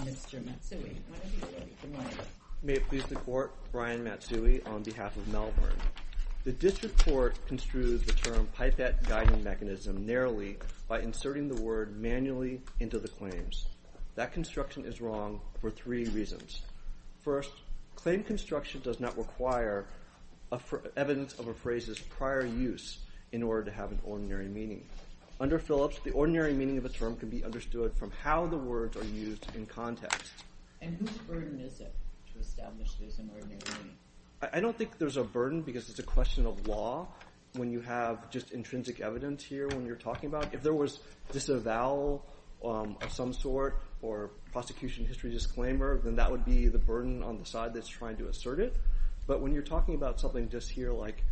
Mr. Matsui. May it please the Court, Brian Matsui, on behalf of Malvern. The District Court construed the term pipette guiding mechanism narrowly by inserting the word manually into the claims. That construction is wrong for three reasons. First, claim construction does not require evidence of a phrase's prior use in order to have an ordinary meaning. Under Phillips, the ordinary meaning of a term can be understood from how the words are used in context. And whose burden is it to establish this ordinary meaning? I don't think there's a burden because it's a question of law when you have just intrinsic evidence here when you're talking about it. If there was just a vowel of some sort or prosecution history disclaimer, then that would be the burden on the side that's trying to assert it. But when you're talking about something just here like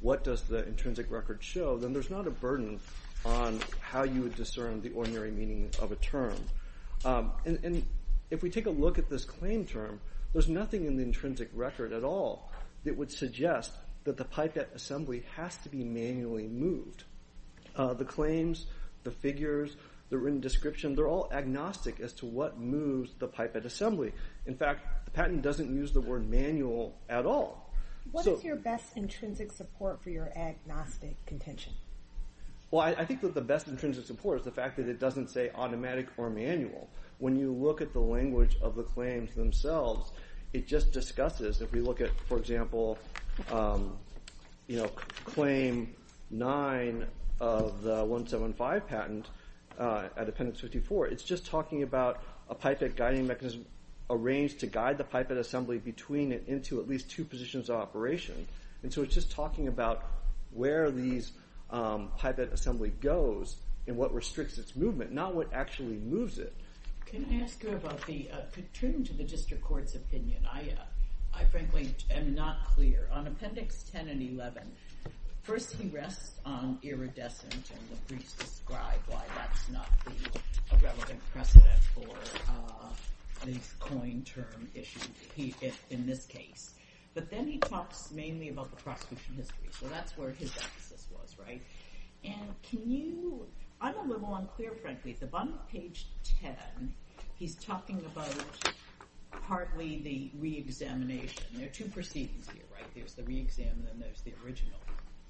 what does the intrinsic record show, then there's not a burden on how you would discern the ordinary meaning of a term. And if we take a look at this claim term, there's nothing in the intrinsic record at all that would suggest that the pipette assembly has to be manually moved. The claims, the figures, the written description, they're all agnostic as to what moves the pipette assembly. In fact the patent doesn't use the word manual at all. What is your best intrinsic support for your agnostic contention? Well I think that the best intrinsic support is the fact that it doesn't say automatic or manual. When you look at the language of the claims themselves, it just discusses, if we look at for example you know claim 9 of the 175 patent at appendix 54, it's just talking about a pipette guiding mechanism arranged to guide the pipette assembly between it into at least two positions of operation. And so it's just talking about where these pipette assembly goes and what restricts its movement, not what actually moves it. Can I ask you about the, returning to the district court's opinion, I frankly am not clear. On appendix 10 and 11, first he rests on iridescent and the briefs describe why that's not a relevant precedent for the coin term issue in this case. But then he talks mainly about the prosecution history, so that's where his emphasis was, right? And can you, I'm a little unclear frankly. At the bottom of page 10, he's talking about partly the re-examination. There are two proceedings here, right? There's the re-exam and then there's the original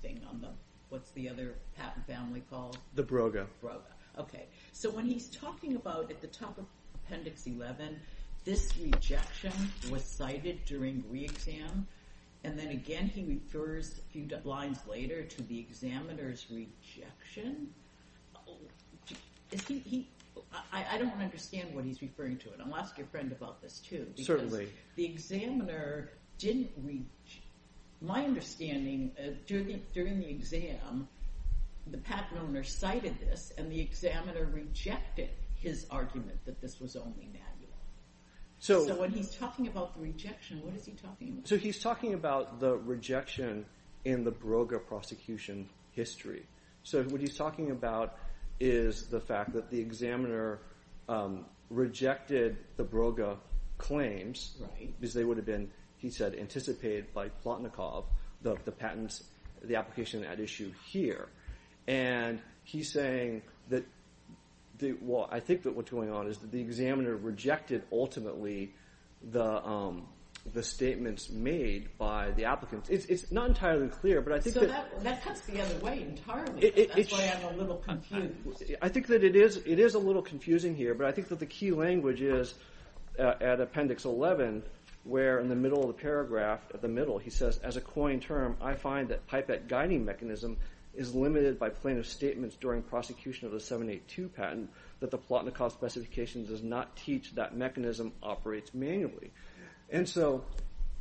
thing on the, what's the other patent family called? The Broga. Broga, okay. So when he's talking about at the top of appendix 11, this rejection was cited during re-exam and then again he refers a few lines later to the examiner's rejection. Is he, I don't understand what he's referring to and I'll ask your friend about this too. Certainly. The examiner didn't, my understanding during the exam, the patent owner cited this and the examiner rejected his argument that this was only manual. So when he's talking about the rejection, what is he talking about? So he's talking about the rejection in the Broga prosecution history. So what he's talking about is the fact that the examiner rejected the Broga claims. Right. Because they would have been, he said, anticipated by Plotnikov the patents, the application at issue here. And he's saying that, well I think that what's going on is that the examiner rejected ultimately the statements made by the applicants. It's not entirely clear but I think. So that cuts the other way entirely. That's why I'm a little confused. I think that it is a little confusing here but I think that the key language is at appendix 11 where in the middle of the paragraph, at the middle he says, as a coined term I find that pipette guiding mechanism is limited by plaintiff's statements during prosecution of the 782 patent that the Plotnikov specification does not teach that mechanism operates manually. And so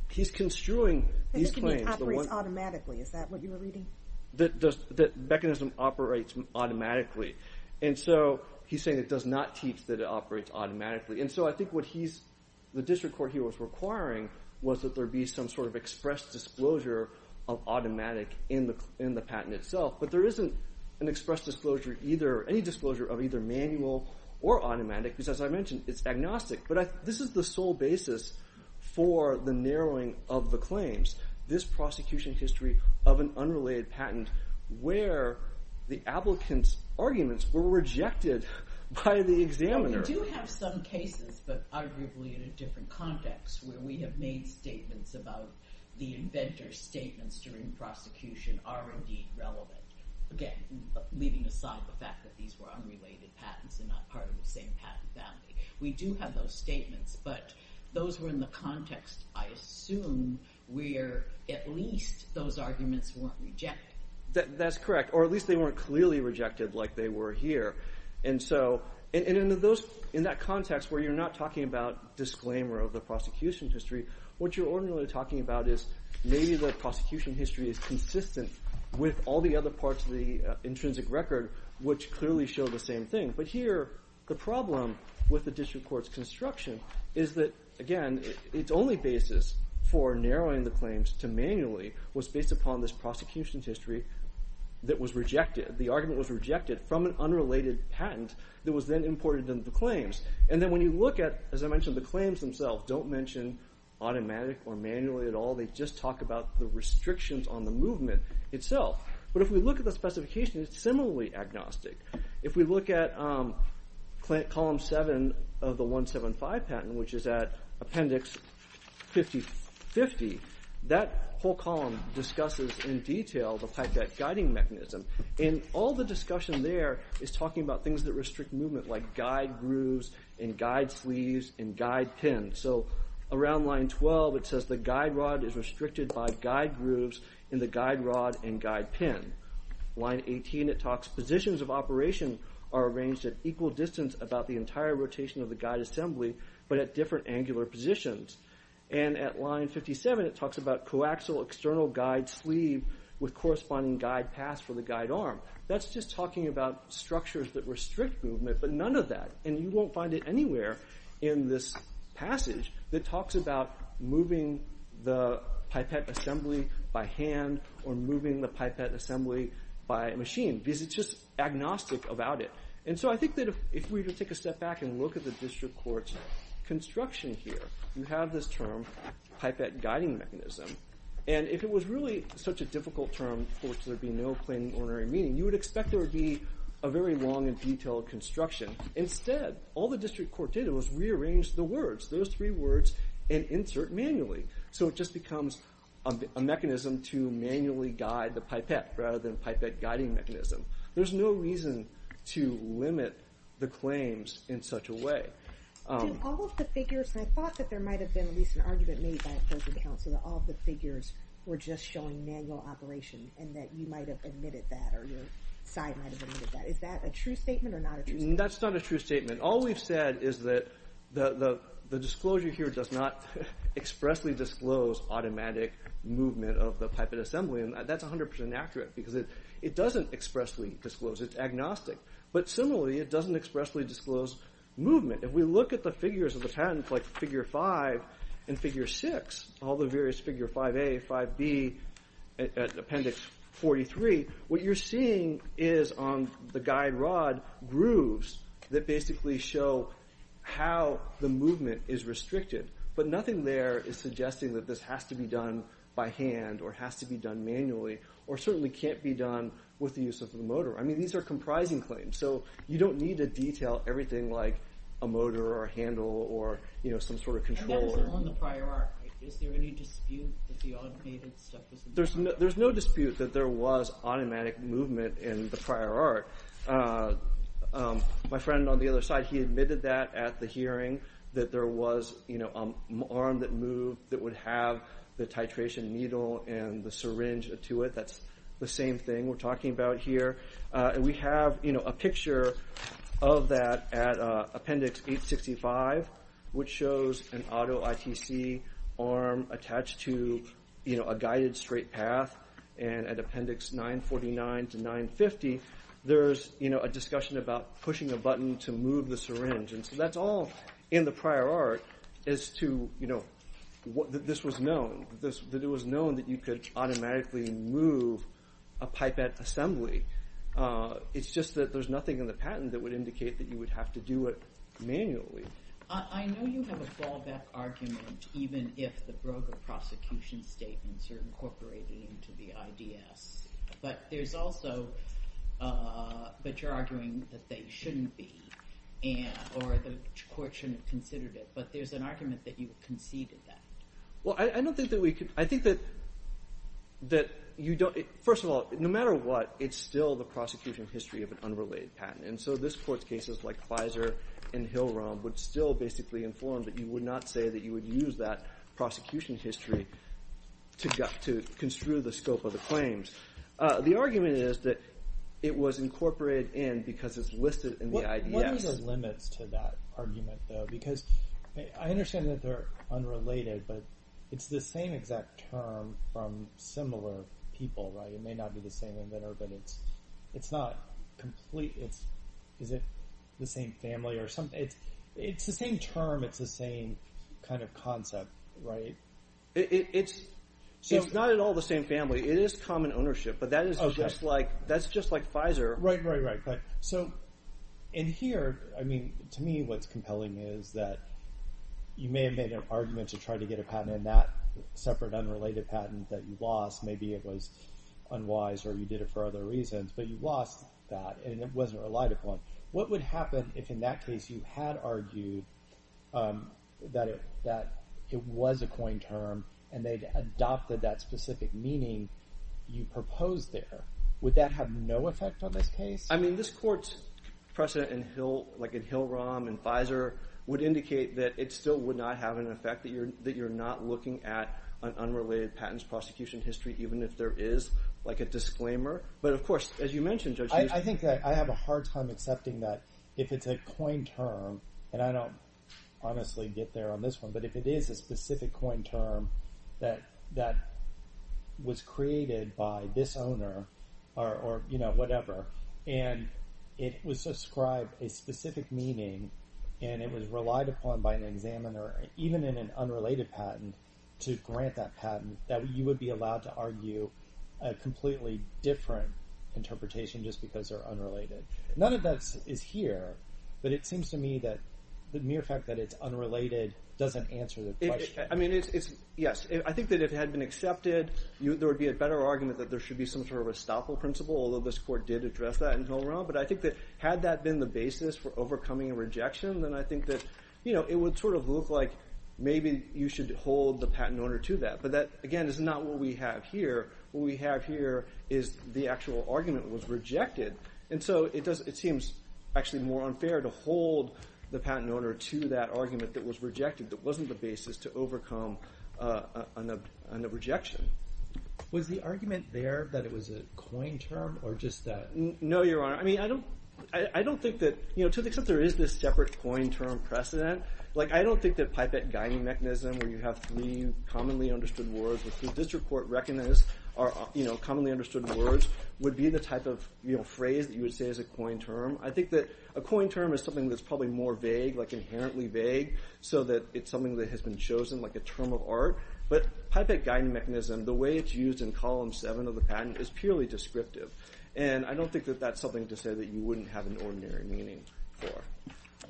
he's construing these claims. It operates automatically, is that what you were reading? That mechanism operates automatically. And so he's saying it does not teach that it operates automatically. And so I think what he's, the district court he was requiring was that there be some sort of express disclosure of automatic in the patent itself. But there isn't an express disclosure either, any disclosure of either manual or automatic because as I mentioned it's agnostic. But this is the sole basis for the narrowing of the claims. This prosecution history of an unrelated patent where the applicant's arguments were rejected by the examiner. We do have some cases but arguably in a different context where we have made statements about the inventor's statements during prosecution are indeed relevant. Again, leaving aside the fact that these were unrelated patents and not part of the same patent family. We do have those statements but those were in the context I assume where at least those arguments weren't rejected. That's correct or at least they weren't clearly rejected like they were here. And so in those, in that context where you're not talking about disclaimer of the prosecution history, what you're ordinarily talking about is maybe the prosecution history is consistent with all the other parts of the intrinsic record which clearly show the same thing. But here the problem with the district court's construction is that again its only basis for narrowing the claims to manually was based upon this prosecution history that was rejected. The argument was rejected from an unrelated patent that was then imported into the claims. And then when you look at, as I mentioned, the claims themselves don't mention automatic or manually at all. They just talk about the restrictions on the movement itself. But if we look at the specification it's similarly agnostic. If we look at column 7 of the 175 patent which is at appendix 5050, that whole column discusses in detail the fact that guiding mechanism and all the discussion there is talking about things that restrict movement like guide grooves and guide sleeves and guide pins. So around line 12 it says the guide rod is restricted by guide grooves in the positions of operation are arranged at equal distance about the entire rotation of the guide assembly but at different angular positions. And at line 57 it talks about coaxial external guide sleeve with corresponding guide pass for the guide arm. That's just talking about structures that restrict movement but none of that. And you won't find it anywhere in this passage that talks about moving the pipette assembly by hand or moving the pipette assembly by machine because it's just agnostic about it. And so I think that if we were to take a step back and look at the district court's construction here you have this term pipette guiding mechanism. And if it was really such a difficult term for which there'd be no plain ordinary meaning you would expect there would be a very long and detailed construction. Instead all the district court did was rearrange the words. Those three words and insert manually. So it just becomes a mechanism to manually guide the pipette rather than pipette guiding mechanism. There's no reason to limit the claims in such a way. Do all of the figures and I thought that there might have been at least an argument made by opposing counsel that all the figures were just showing manual operation and that you might have admitted that or your side might have admitted that. Is that a true statement or not? That's not a true statement. All we've said is that the disclosure here does not expressly disclose automatic movement of the pipette assembly and that's 100% accurate because it doesn't expressly disclose it's agnostic. But similarly it doesn't expressly disclose movement. If we look at the figures of the patents like figure 5 and figure 6 all the various figure 5a 5b appendix 43 what you're seeing is on the guide rod grooves that basically show how the movement is restricted but nothing there is suggesting that this has to be done by hand or has to be done manually or certainly can't be done with the use of the motor. I mean these are comprising claims so you don't need to detail everything like a motor or a handle or you know sort of controller. There's no dispute that there was automatic movement in the prior art. My friend on the other side he admitted that at the hearing that there was you know an arm that moved that would have the titration needle and the syringe to it. That's the same thing we're of that at appendix 865 which shows an auto ITC arm attached to you know a guided straight path and at appendix 949 to 950 there's you know a discussion about pushing a button to move the syringe and so that's all in the prior art as to you know what this was known this that it was known that you could automatically move a pipette assembly. It's just that there's nothing in the patent that would indicate that you would have to do it manually. I know you have a fallback argument even if the broker prosecution statements are incorporated into the IDS but there's also but you're arguing that they shouldn't be and or the court shouldn't have considered it but there's an argument that you conceded that. Well I don't think that we could I think that that you don't first of all no matter what it's still the prosecution history of an unrelated patent and so this court's cases like Pfizer and Hill Rom would still basically inform that you would not say that you would use that prosecution history to get to construe the scope of the claims. The argument is that it was incorporated in because it's listed in the IDS. What are the limits to that argument though because I understand that they're unrelated but it's the same exact term from similar people right it may not be the same inventor but it's it's not complete it's is it the same family or something it's it's the same term it's the same kind of concept right. It's so it's not at all the same family it is common ownership but that is just like that's just like Pfizer. Right right right but so in here I mean to me what's compelling is that you may have made an argument to try to get a patent in that separate unrelated patent that you lost maybe it was unwise or you did it for other reasons but you lost that and it wasn't relied upon what would happen if in that case you had argued that it that it was a coin term and they'd adopted that specific meaning you proposed there would that have no effect on this case? I mean this court's precedent in Hill like in Hill Rom and Pfizer would indicate that it still would not have an effect that you're that you're not looking at an unrelated patents prosecution history even if there is like a disclaimer but of course as you mentioned judge I think that I have a hard time accepting that if it's a coin term and I don't honestly get there on this one but if it is a specific coin term that that was created by this owner or you know whatever and it was a specific meaning and it was relied upon by an examiner even in an unrelated patent to grant that patent that you would be allowed to argue a completely different interpretation just because they're unrelated none of that is here but it seems to me that the mere fact that it's unrelated doesn't answer the question. I mean it's yes I think that it had been accepted you there would be a better argument that there should be some sort of estoppel principle although this court did address that in Hill Rom but I think that had that been the basis for overcoming a rejection then I think that you know it would sort of look like maybe you should hold the patent owner to that but that again is not what we have here what we have here is the actual argument was rejected and so it does it seems actually more unfair to hold the patent owner to that argument that was rejected that wasn't the basis to overcome a rejection. Was the argument there that it was a no your honor I mean I don't I don't think that you know to the extent there is this separate coin term precedent like I don't think that pipette guiding mechanism where you have three commonly understood words which the district court recognized are you know commonly understood words would be the type of you know phrase that you would say as a coin term I think that a coin term is something that's probably more vague like inherently vague so that it's something that has been chosen like a term of art but pipette guiding mechanism the way it's used in column seven of the I don't think that that's something to say that you wouldn't have an ordinary meaning for.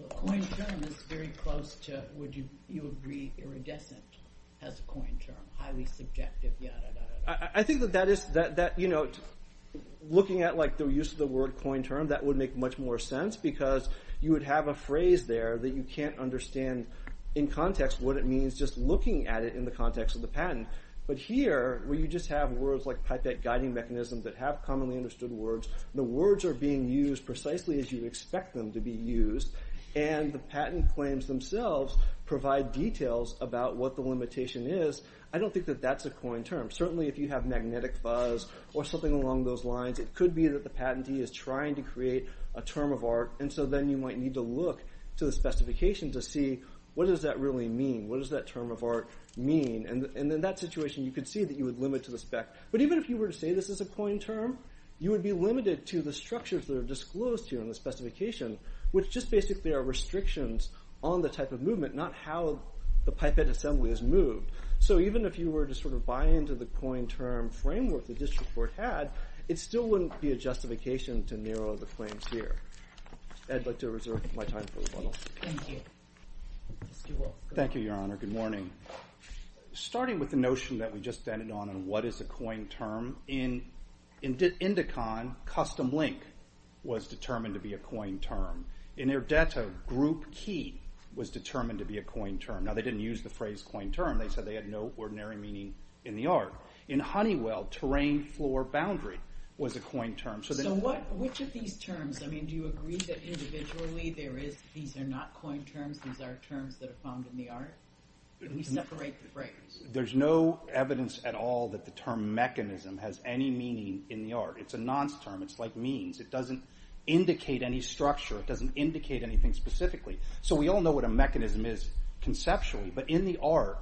Coin term is very close to would you agree iridescent as a coin term highly subjective I think that that is that that you know looking at like the use of the word coin term that would make much more sense because you would have a phrase there that you can't understand in context what it means just looking at it in the context of the patent but here where you just have words like pipette guiding mechanism that have commonly understood words the words are being used precisely as you expect them to be used and the patent claims themselves provide details about what the limitation is I don't think that that's a coin term certainly if you have magnetic fuzz or something along those lines it could be that the patentee is trying to create a term of art and so then you might need to look to the specification to see what does that really mean what does that term of art mean and in that situation you could see that you would limit to but even if you were to say this is a coin term you would be limited to the structures that are disclosed here in the specification which just basically are restrictions on the type of movement not how the pipette assembly is moved so even if you were to sort of buy into the coin term framework the district court had it still wouldn't be a justification to narrow the claims here i'd like to reserve my time for the funnel thank you thank you your honor good morning starting with the notion that we just ended on and what is a coin term in indicon custom link was determined to be a coin term in their data group key was determined to be a coin term now they didn't use the phrase coin term they said they had no ordinary meaning in the art in honeywell terrain floor boundary was a coin term so then what which of these terms I mean do you agree that individually there is these are not coin terms these are terms that are found in the art we separate the frames there's no evidence at all that the term mechanism has any meaning in the art it's a nonce term it's like means it doesn't indicate any structure it doesn't indicate anything specifically so we all know what a mechanism is conceptually but in the art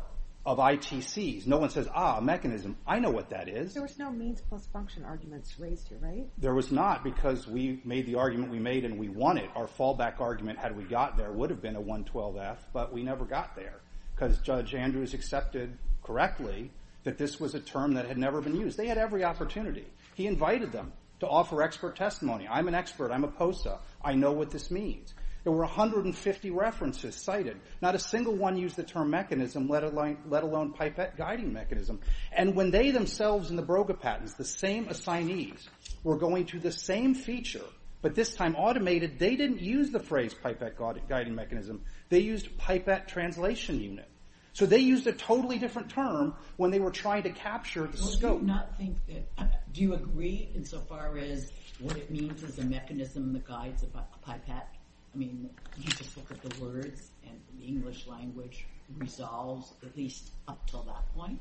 of itc's no one says ah mechanism I know what that is there was no means plus function arguments raised here right there was not because we made the argument we made and we wanted our fallback argument had we got there would have been a 112 f but we never got there because judge andrews accepted correctly that this was a term that had never been used they had every opportunity he invited them to offer expert testimony I'm an expert I'm a posa I know what this means there were 150 references cited not a single one used the term mechanism let it like let alone pipette guiding mechanism and when they themselves in the broga patents the same assignees were going to the same feature but this time automated they didn't use the phrase pipette guiding mechanism they used pipette translation unit so they used a totally different term when they were trying to capture the scope not think that do you agree insofar as what it means is a mechanism that guides about the pipette I mean you just look at the words and the english language resolves at least up till that point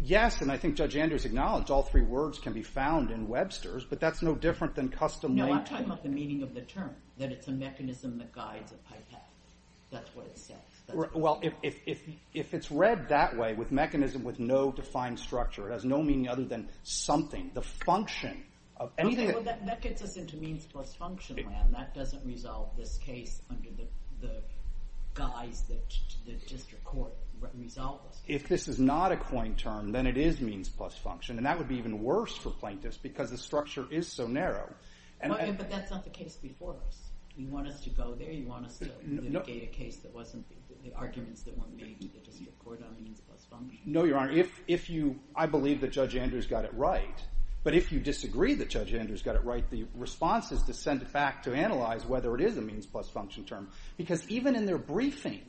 yes and I think judge andrews acknowledged all three words can be found in Webster's but that's no different than custom meaning of the term that it's a mechanism that guides a pipette that's what it says well if it's read that way with mechanism with no defined structure it has no meaning other than something the function of anything that gets us into means plus function land that doesn't resolve this case under the guise that the district court resolves if this is not a coin term then it is means plus function and that would be even worse for plaintiffs because the structure is so narrow and but that's not the case before us we want us to go there you want us to mitigate a case that wasn't the arguments that weren't made with the district court on the means plus function no your honor if if you I believe that judge andrews got it right but if you disagree that judge andrews got it right the response is to send it back to analyze whether it is a means plus function term because even in their briefing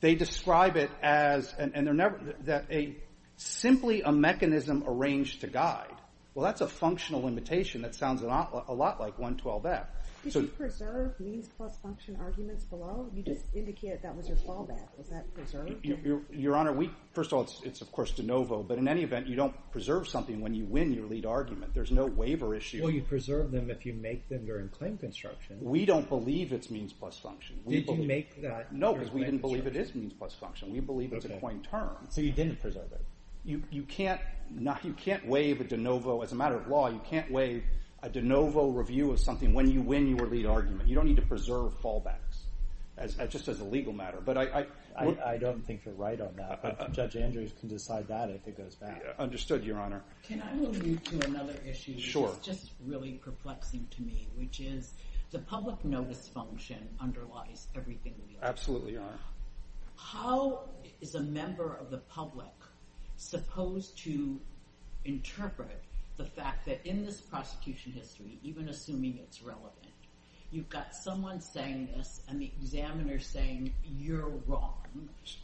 they describe it as and they're never that a simply a mechanism arranged to guide well that's a functional limitation that sounds a lot like 112f so you preserve means plus function arguments below you just indicate that was your fallback was that preserved your honor we first of all it's of course de novo but in any event you don't preserve something when you win your lead argument there's no waiver issue well you preserve them if you make them during claim construction we don't believe it's means plus function did you make that no because we didn't believe it is means plus function we believe it's a point term so you didn't preserve it you you can't not you can't waive a de novo as a matter of law you can't waive a de novo review of something when you win your lead argument you don't need to preserve fallbacks as just as a legal matter but i i i don't think you're right on that but judge andrews can decide that if it goes back understood your honor can i move you to another issue sure it's just really perplexing to me which is the public notice function underlies everything we absolutely are how is a member of the public supposed to interpret the fact that in this prosecution history even assuming it's relevant you've got someone saying this and the examiner saying you're wrong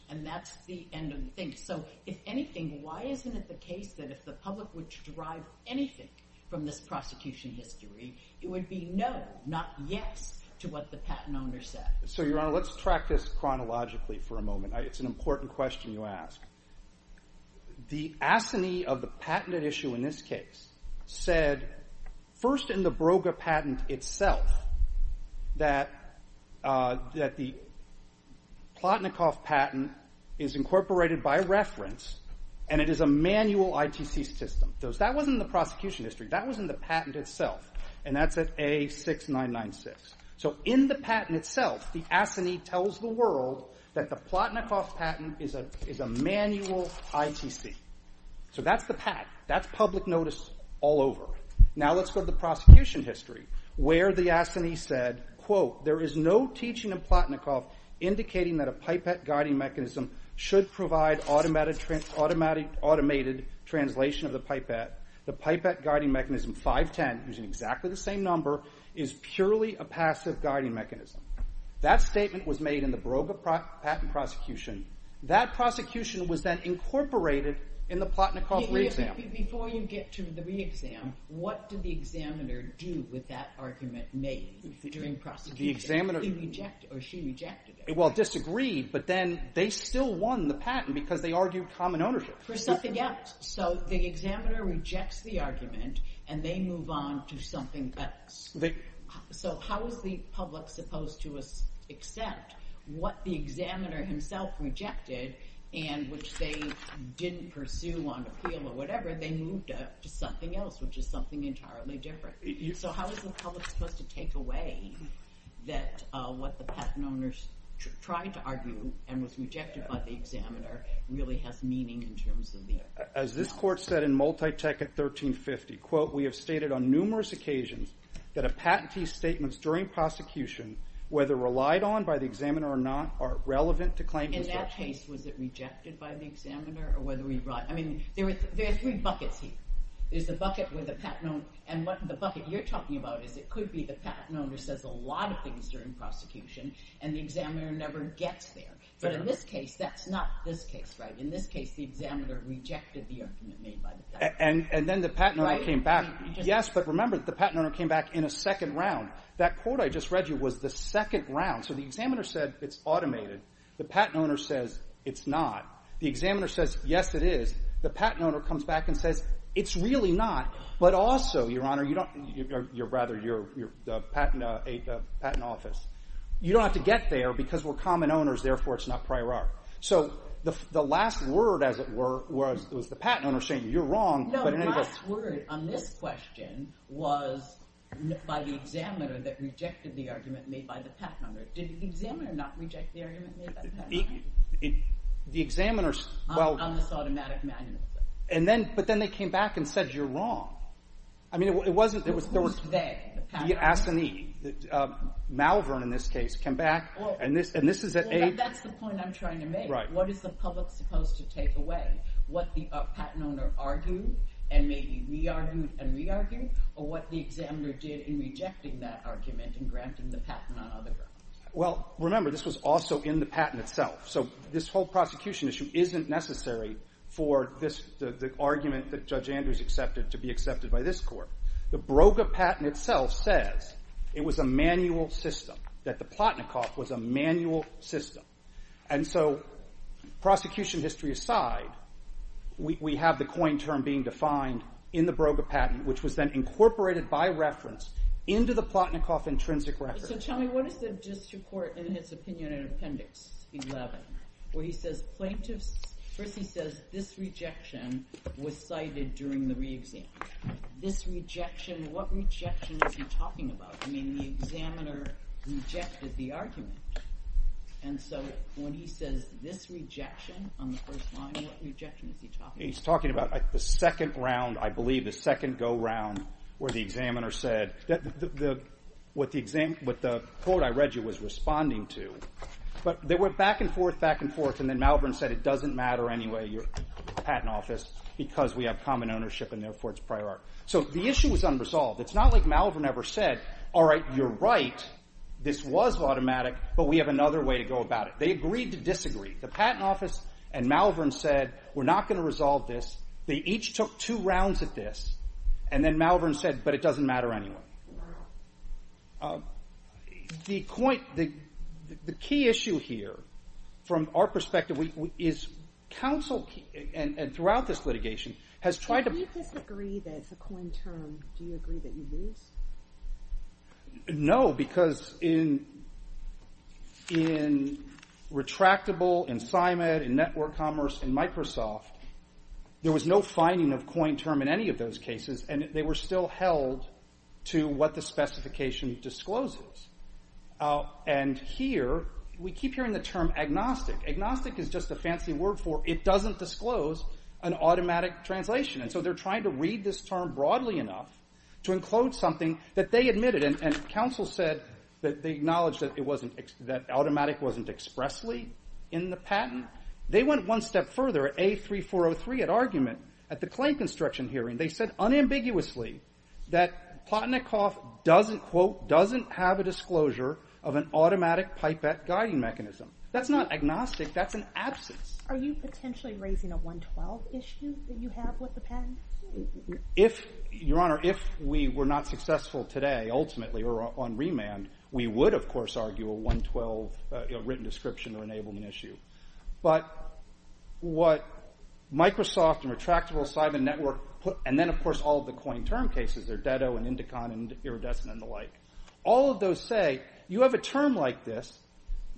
and that's the end of the thing so if anything why isn't it the case that if the public would derive anything from this prosecution history it would be no not yes to what the patent owner said so your honor let's track this chronologically for a moment it's an important question you ask the asinine of the patented issue in this case said first in the broga patent itself that uh that the platnikov patent is incorporated by reference and it is a manual itc system those that wasn't the prosecution history that was in the patent itself and that's at a 6996 so in the patent itself the asinine tells the world that the platnikov patent is a is a manual itc so that's the pat that's public notice all over now let's go to the prosecution history where the asinine said quote there is no teaching in platnikov indicating that a pipette guiding mechanism should provide automatic automatic automated translation of the pipette the pipette guiding mechanism 510 using exactly the same number is purely a passive guiding mechanism that statement was made in the broga patent prosecution that prosecution was then incorporated in the platnikov re-exam before you get to the re-exam what did the examiner do with that argument made during prosecution the examiner he rejected or she rejected it well disagreed but then they still won the patent because they argued common ownership for something else so the examiner rejects the argument and they move on to something that so how is the public supposed to accept what the examiner himself rejected and which they didn't pursue on appeal or whatever they moved up to something else which is something entirely different so how is the public supposed to take away that uh what the patent owners tried to argue and was rejected by the examiner really has meaning in terms of the as this court said in multi-tech at 1350 quote we have stated on numerous occasions that a patentee statements during prosecution whether relied on by the examiner or not are relevant to claim in that case was it rejected by the examiner or whether we brought i mean there were there's three buckets here there's the bucket with the patent and what the bucket you're talking about is it could be the patent owner says a lot of things during prosecution and the examiner never gets there but in this case that's not this case right in this case the examiner rejected the argument made by the and and then the patent owner came back yes but remember the patent owner came back in a second round that quote i just read you was the second round so the examiner said it's automated the patent owner says it's not the examiner says yes it is the patent owner comes back and says it's really not but also your honor you don't you're rather you're you're the patent uh a patent office you don't have to get there because we're common owners therefore it's not prior art so the the last word as it were was it was the patent owner saying you're wrong but in any case word on this question was by the examiner that rejected the argument made by the path number did the examiner not reject the argument the examiner's well on this automatic manual and then but then they came back and said you're wrong i mean it wasn't there was there was a the ass in the uh malvern in this case came back and this and this is at eight that's the point i'm trying to make right what is the public supposed to take away what the patent owner argued and maybe re-argued and re-argued or what the examiner did in rejecting that argument and granting the patent on other grounds well remember this was also in the patent itself so this whole prosecution issue isn't necessary for this the the argument that judge andrews accepted to be accepted by this court the broga patent itself says it was a manual system that the platnikoff was a manual system and so prosecution history aside we have the coin term being defined in the broga patent which was then incorporated by reference into the platnikoff intrinsic record so tell me what is the district court in his opinion in appendix 11 where he says plaintiffs first he says this rejection was cited during the re-exam this rejection what rejection is he talking about i mean the examiner rejected the argument and so when he says this rejection on the first line what rejection is he talking he's talking about the second round i believe the second go round where the examiner said that the what the quote i read you was responding to but they went back and forth back and forth and then malvin said it doesn't matter anyway your patent office because we have common ownership and therefore it's prior so the issue was unresolved it's not like malvin ever said all right you're right this was automatic but we have another way to go about it they agreed to disagree the patent office and malvin said we're not going to resolve this they each took two rounds at this and then malvin said but it doesn't matter anyway uh the point the the key issue here from our perspective we is counsel and and throughout this litigation has tried to disagree that it's a coin term do you agree that you lose no because in in retractable and simon and network commerce and held to what the specification discloses and here we keep hearing the term agnostic agnostic is just a fancy word for it doesn't disclose an automatic translation and so they're trying to read this term broadly enough to include something that they admitted and counsel said that they acknowledged that it wasn't that automatic wasn't expressly in the patent they went one step further a3403 at argument at the claim construction hearing they said unambiguously that potnikoff doesn't quote doesn't have a disclosure of an automatic pipette guiding mechanism that's not agnostic that's an absence are you potentially raising a 112 issue that you have with the pen if your honor if we were not successful today ultimately or on remand we would of course argue 112 written description or enablement issue but what microsoft and retractable simon network put and then of course all the coin term cases are deddo and indicon and iridescent and the like all of those say you have a term like this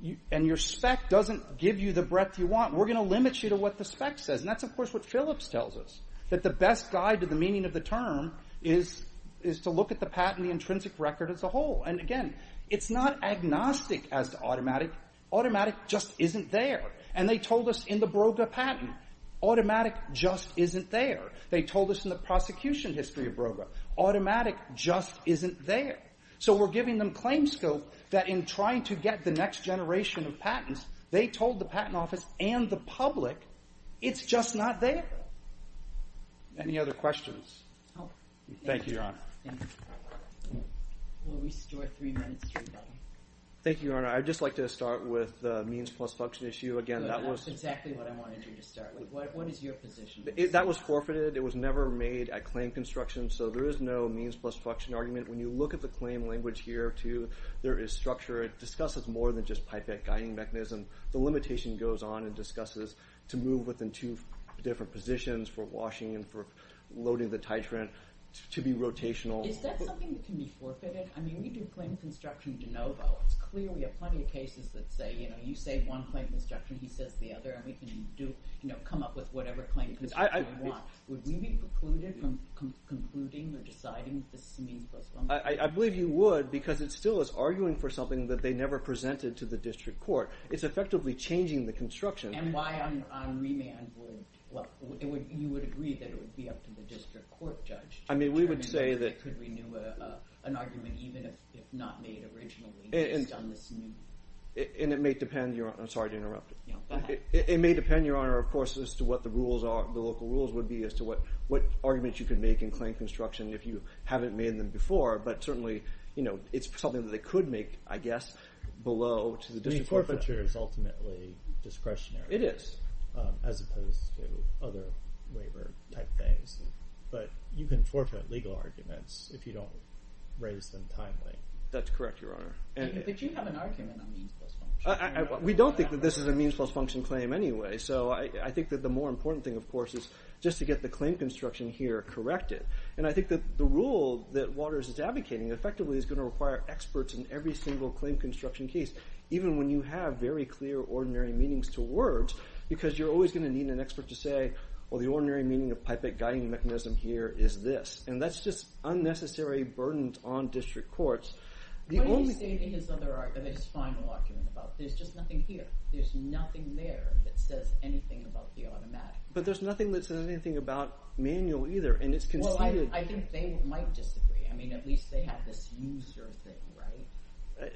you and your spec doesn't give you the breadth you want we're going to limit you to what the spec says and that's of course what phillips tells us that the best guide to the meaning of the term is is to look at the patent the intrinsic record as a whole and again it's not agnostic as to automatic automatic just isn't there and they told us in the broga patent automatic just isn't there they told us in the prosecution history of broga automatic just isn't there so we're giving them claim scope that in trying to get the next generation of patents they told the patent office and the public it's just not there any other questions oh thank you your honor will restore three minutes thank you your honor i'd just like to start with the means plus function issue again that was exactly what i wanted you to start with what is your position that was forfeited it was never made at claim construction so there is no means plus function argument when you look at the claim language here too there is structure it discusses more than just pipette guiding mechanism the limitation goes on and discusses to move within two different positions for washing and for loading the titrant to be rotational is that something that can be forfeited i mean we do claim construction de novo it's clearly a plenty of cases that say you know you say one claim construction he says the other and we can do you know come up with whatever claim would we be precluded from concluding or deciding this i believe you would because it still is it's effectively changing the construction and why i'm on remand well it would you would agree that it would be up to the district court judge i mean we would say that could renew a an argument even if not made originally based on this and it may depend your i'm sorry to interrupt it may depend your honor of course as to what the rules are the local rules would be as to what what arguments you could make in claim construction if you haven't made them before but certainly you know it's something that they could make i guess below which is the district forfeiture is ultimately discretionary it is as opposed to other waiver type things but you can forfeit legal arguments if you don't raise them timely that's correct your honor and but you have an argument on means plus function we don't think that this is a means plus function claim anyway so i i think that the more important thing of course is just to get the claim construction here corrected and i think that the rule that waters is advocating effectively is going to require experts in every single claim construction case even when you have very clear ordinary meanings to words because you're always going to need an expert to say well the ordinary meaning of pipette guiding mechanism here is this and that's just unnecessary burdens on district courts the only thing in his other argument his final argument about there's just nothing here there's nothing there that says anything about the automatic but there's nothing that says anything about manual either and it's considered i think they might disagree i mean at least they have this user thing right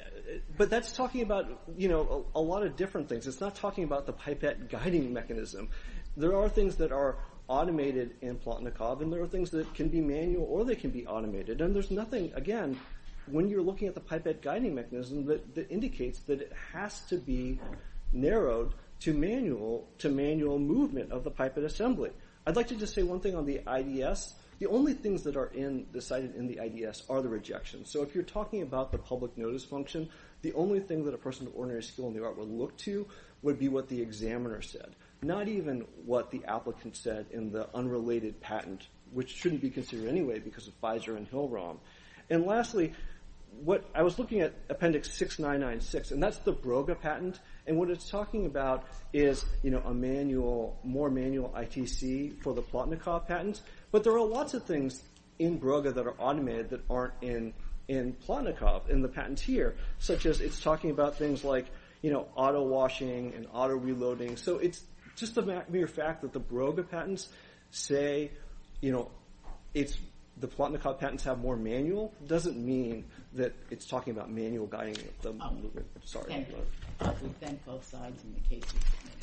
but that's talking about you know a lot of different things it's not talking about the pipette guiding mechanism there are things that are automated in plot nakab and there are things that can be manual or they can be automated and there's nothing again when you're looking at the pipette guiding mechanism that indicates that it has to be i'd like to just say one thing on the ids the only things that are in decided in the ids are the rejection so if you're talking about the public notice function the only thing that a person ordinary skill in the art will look to would be what the examiner said not even what the applicant said in the unrelated patent which shouldn't be considered anyway because of pfizer and hill rom and lastly what i was looking at appendix 6996 and that's the broga patent and what it's talking about is you know a manual more manual itc for the plot nakab patents but there are lots of things in broga that are automated that aren't in in plot nakab in the patent here such as it's talking about things like you know auto washing and auto reloading so it's just a mere fact that the broga patents say you know it's the plot nakab patents have more manual doesn't mean that it's talking about manual guiding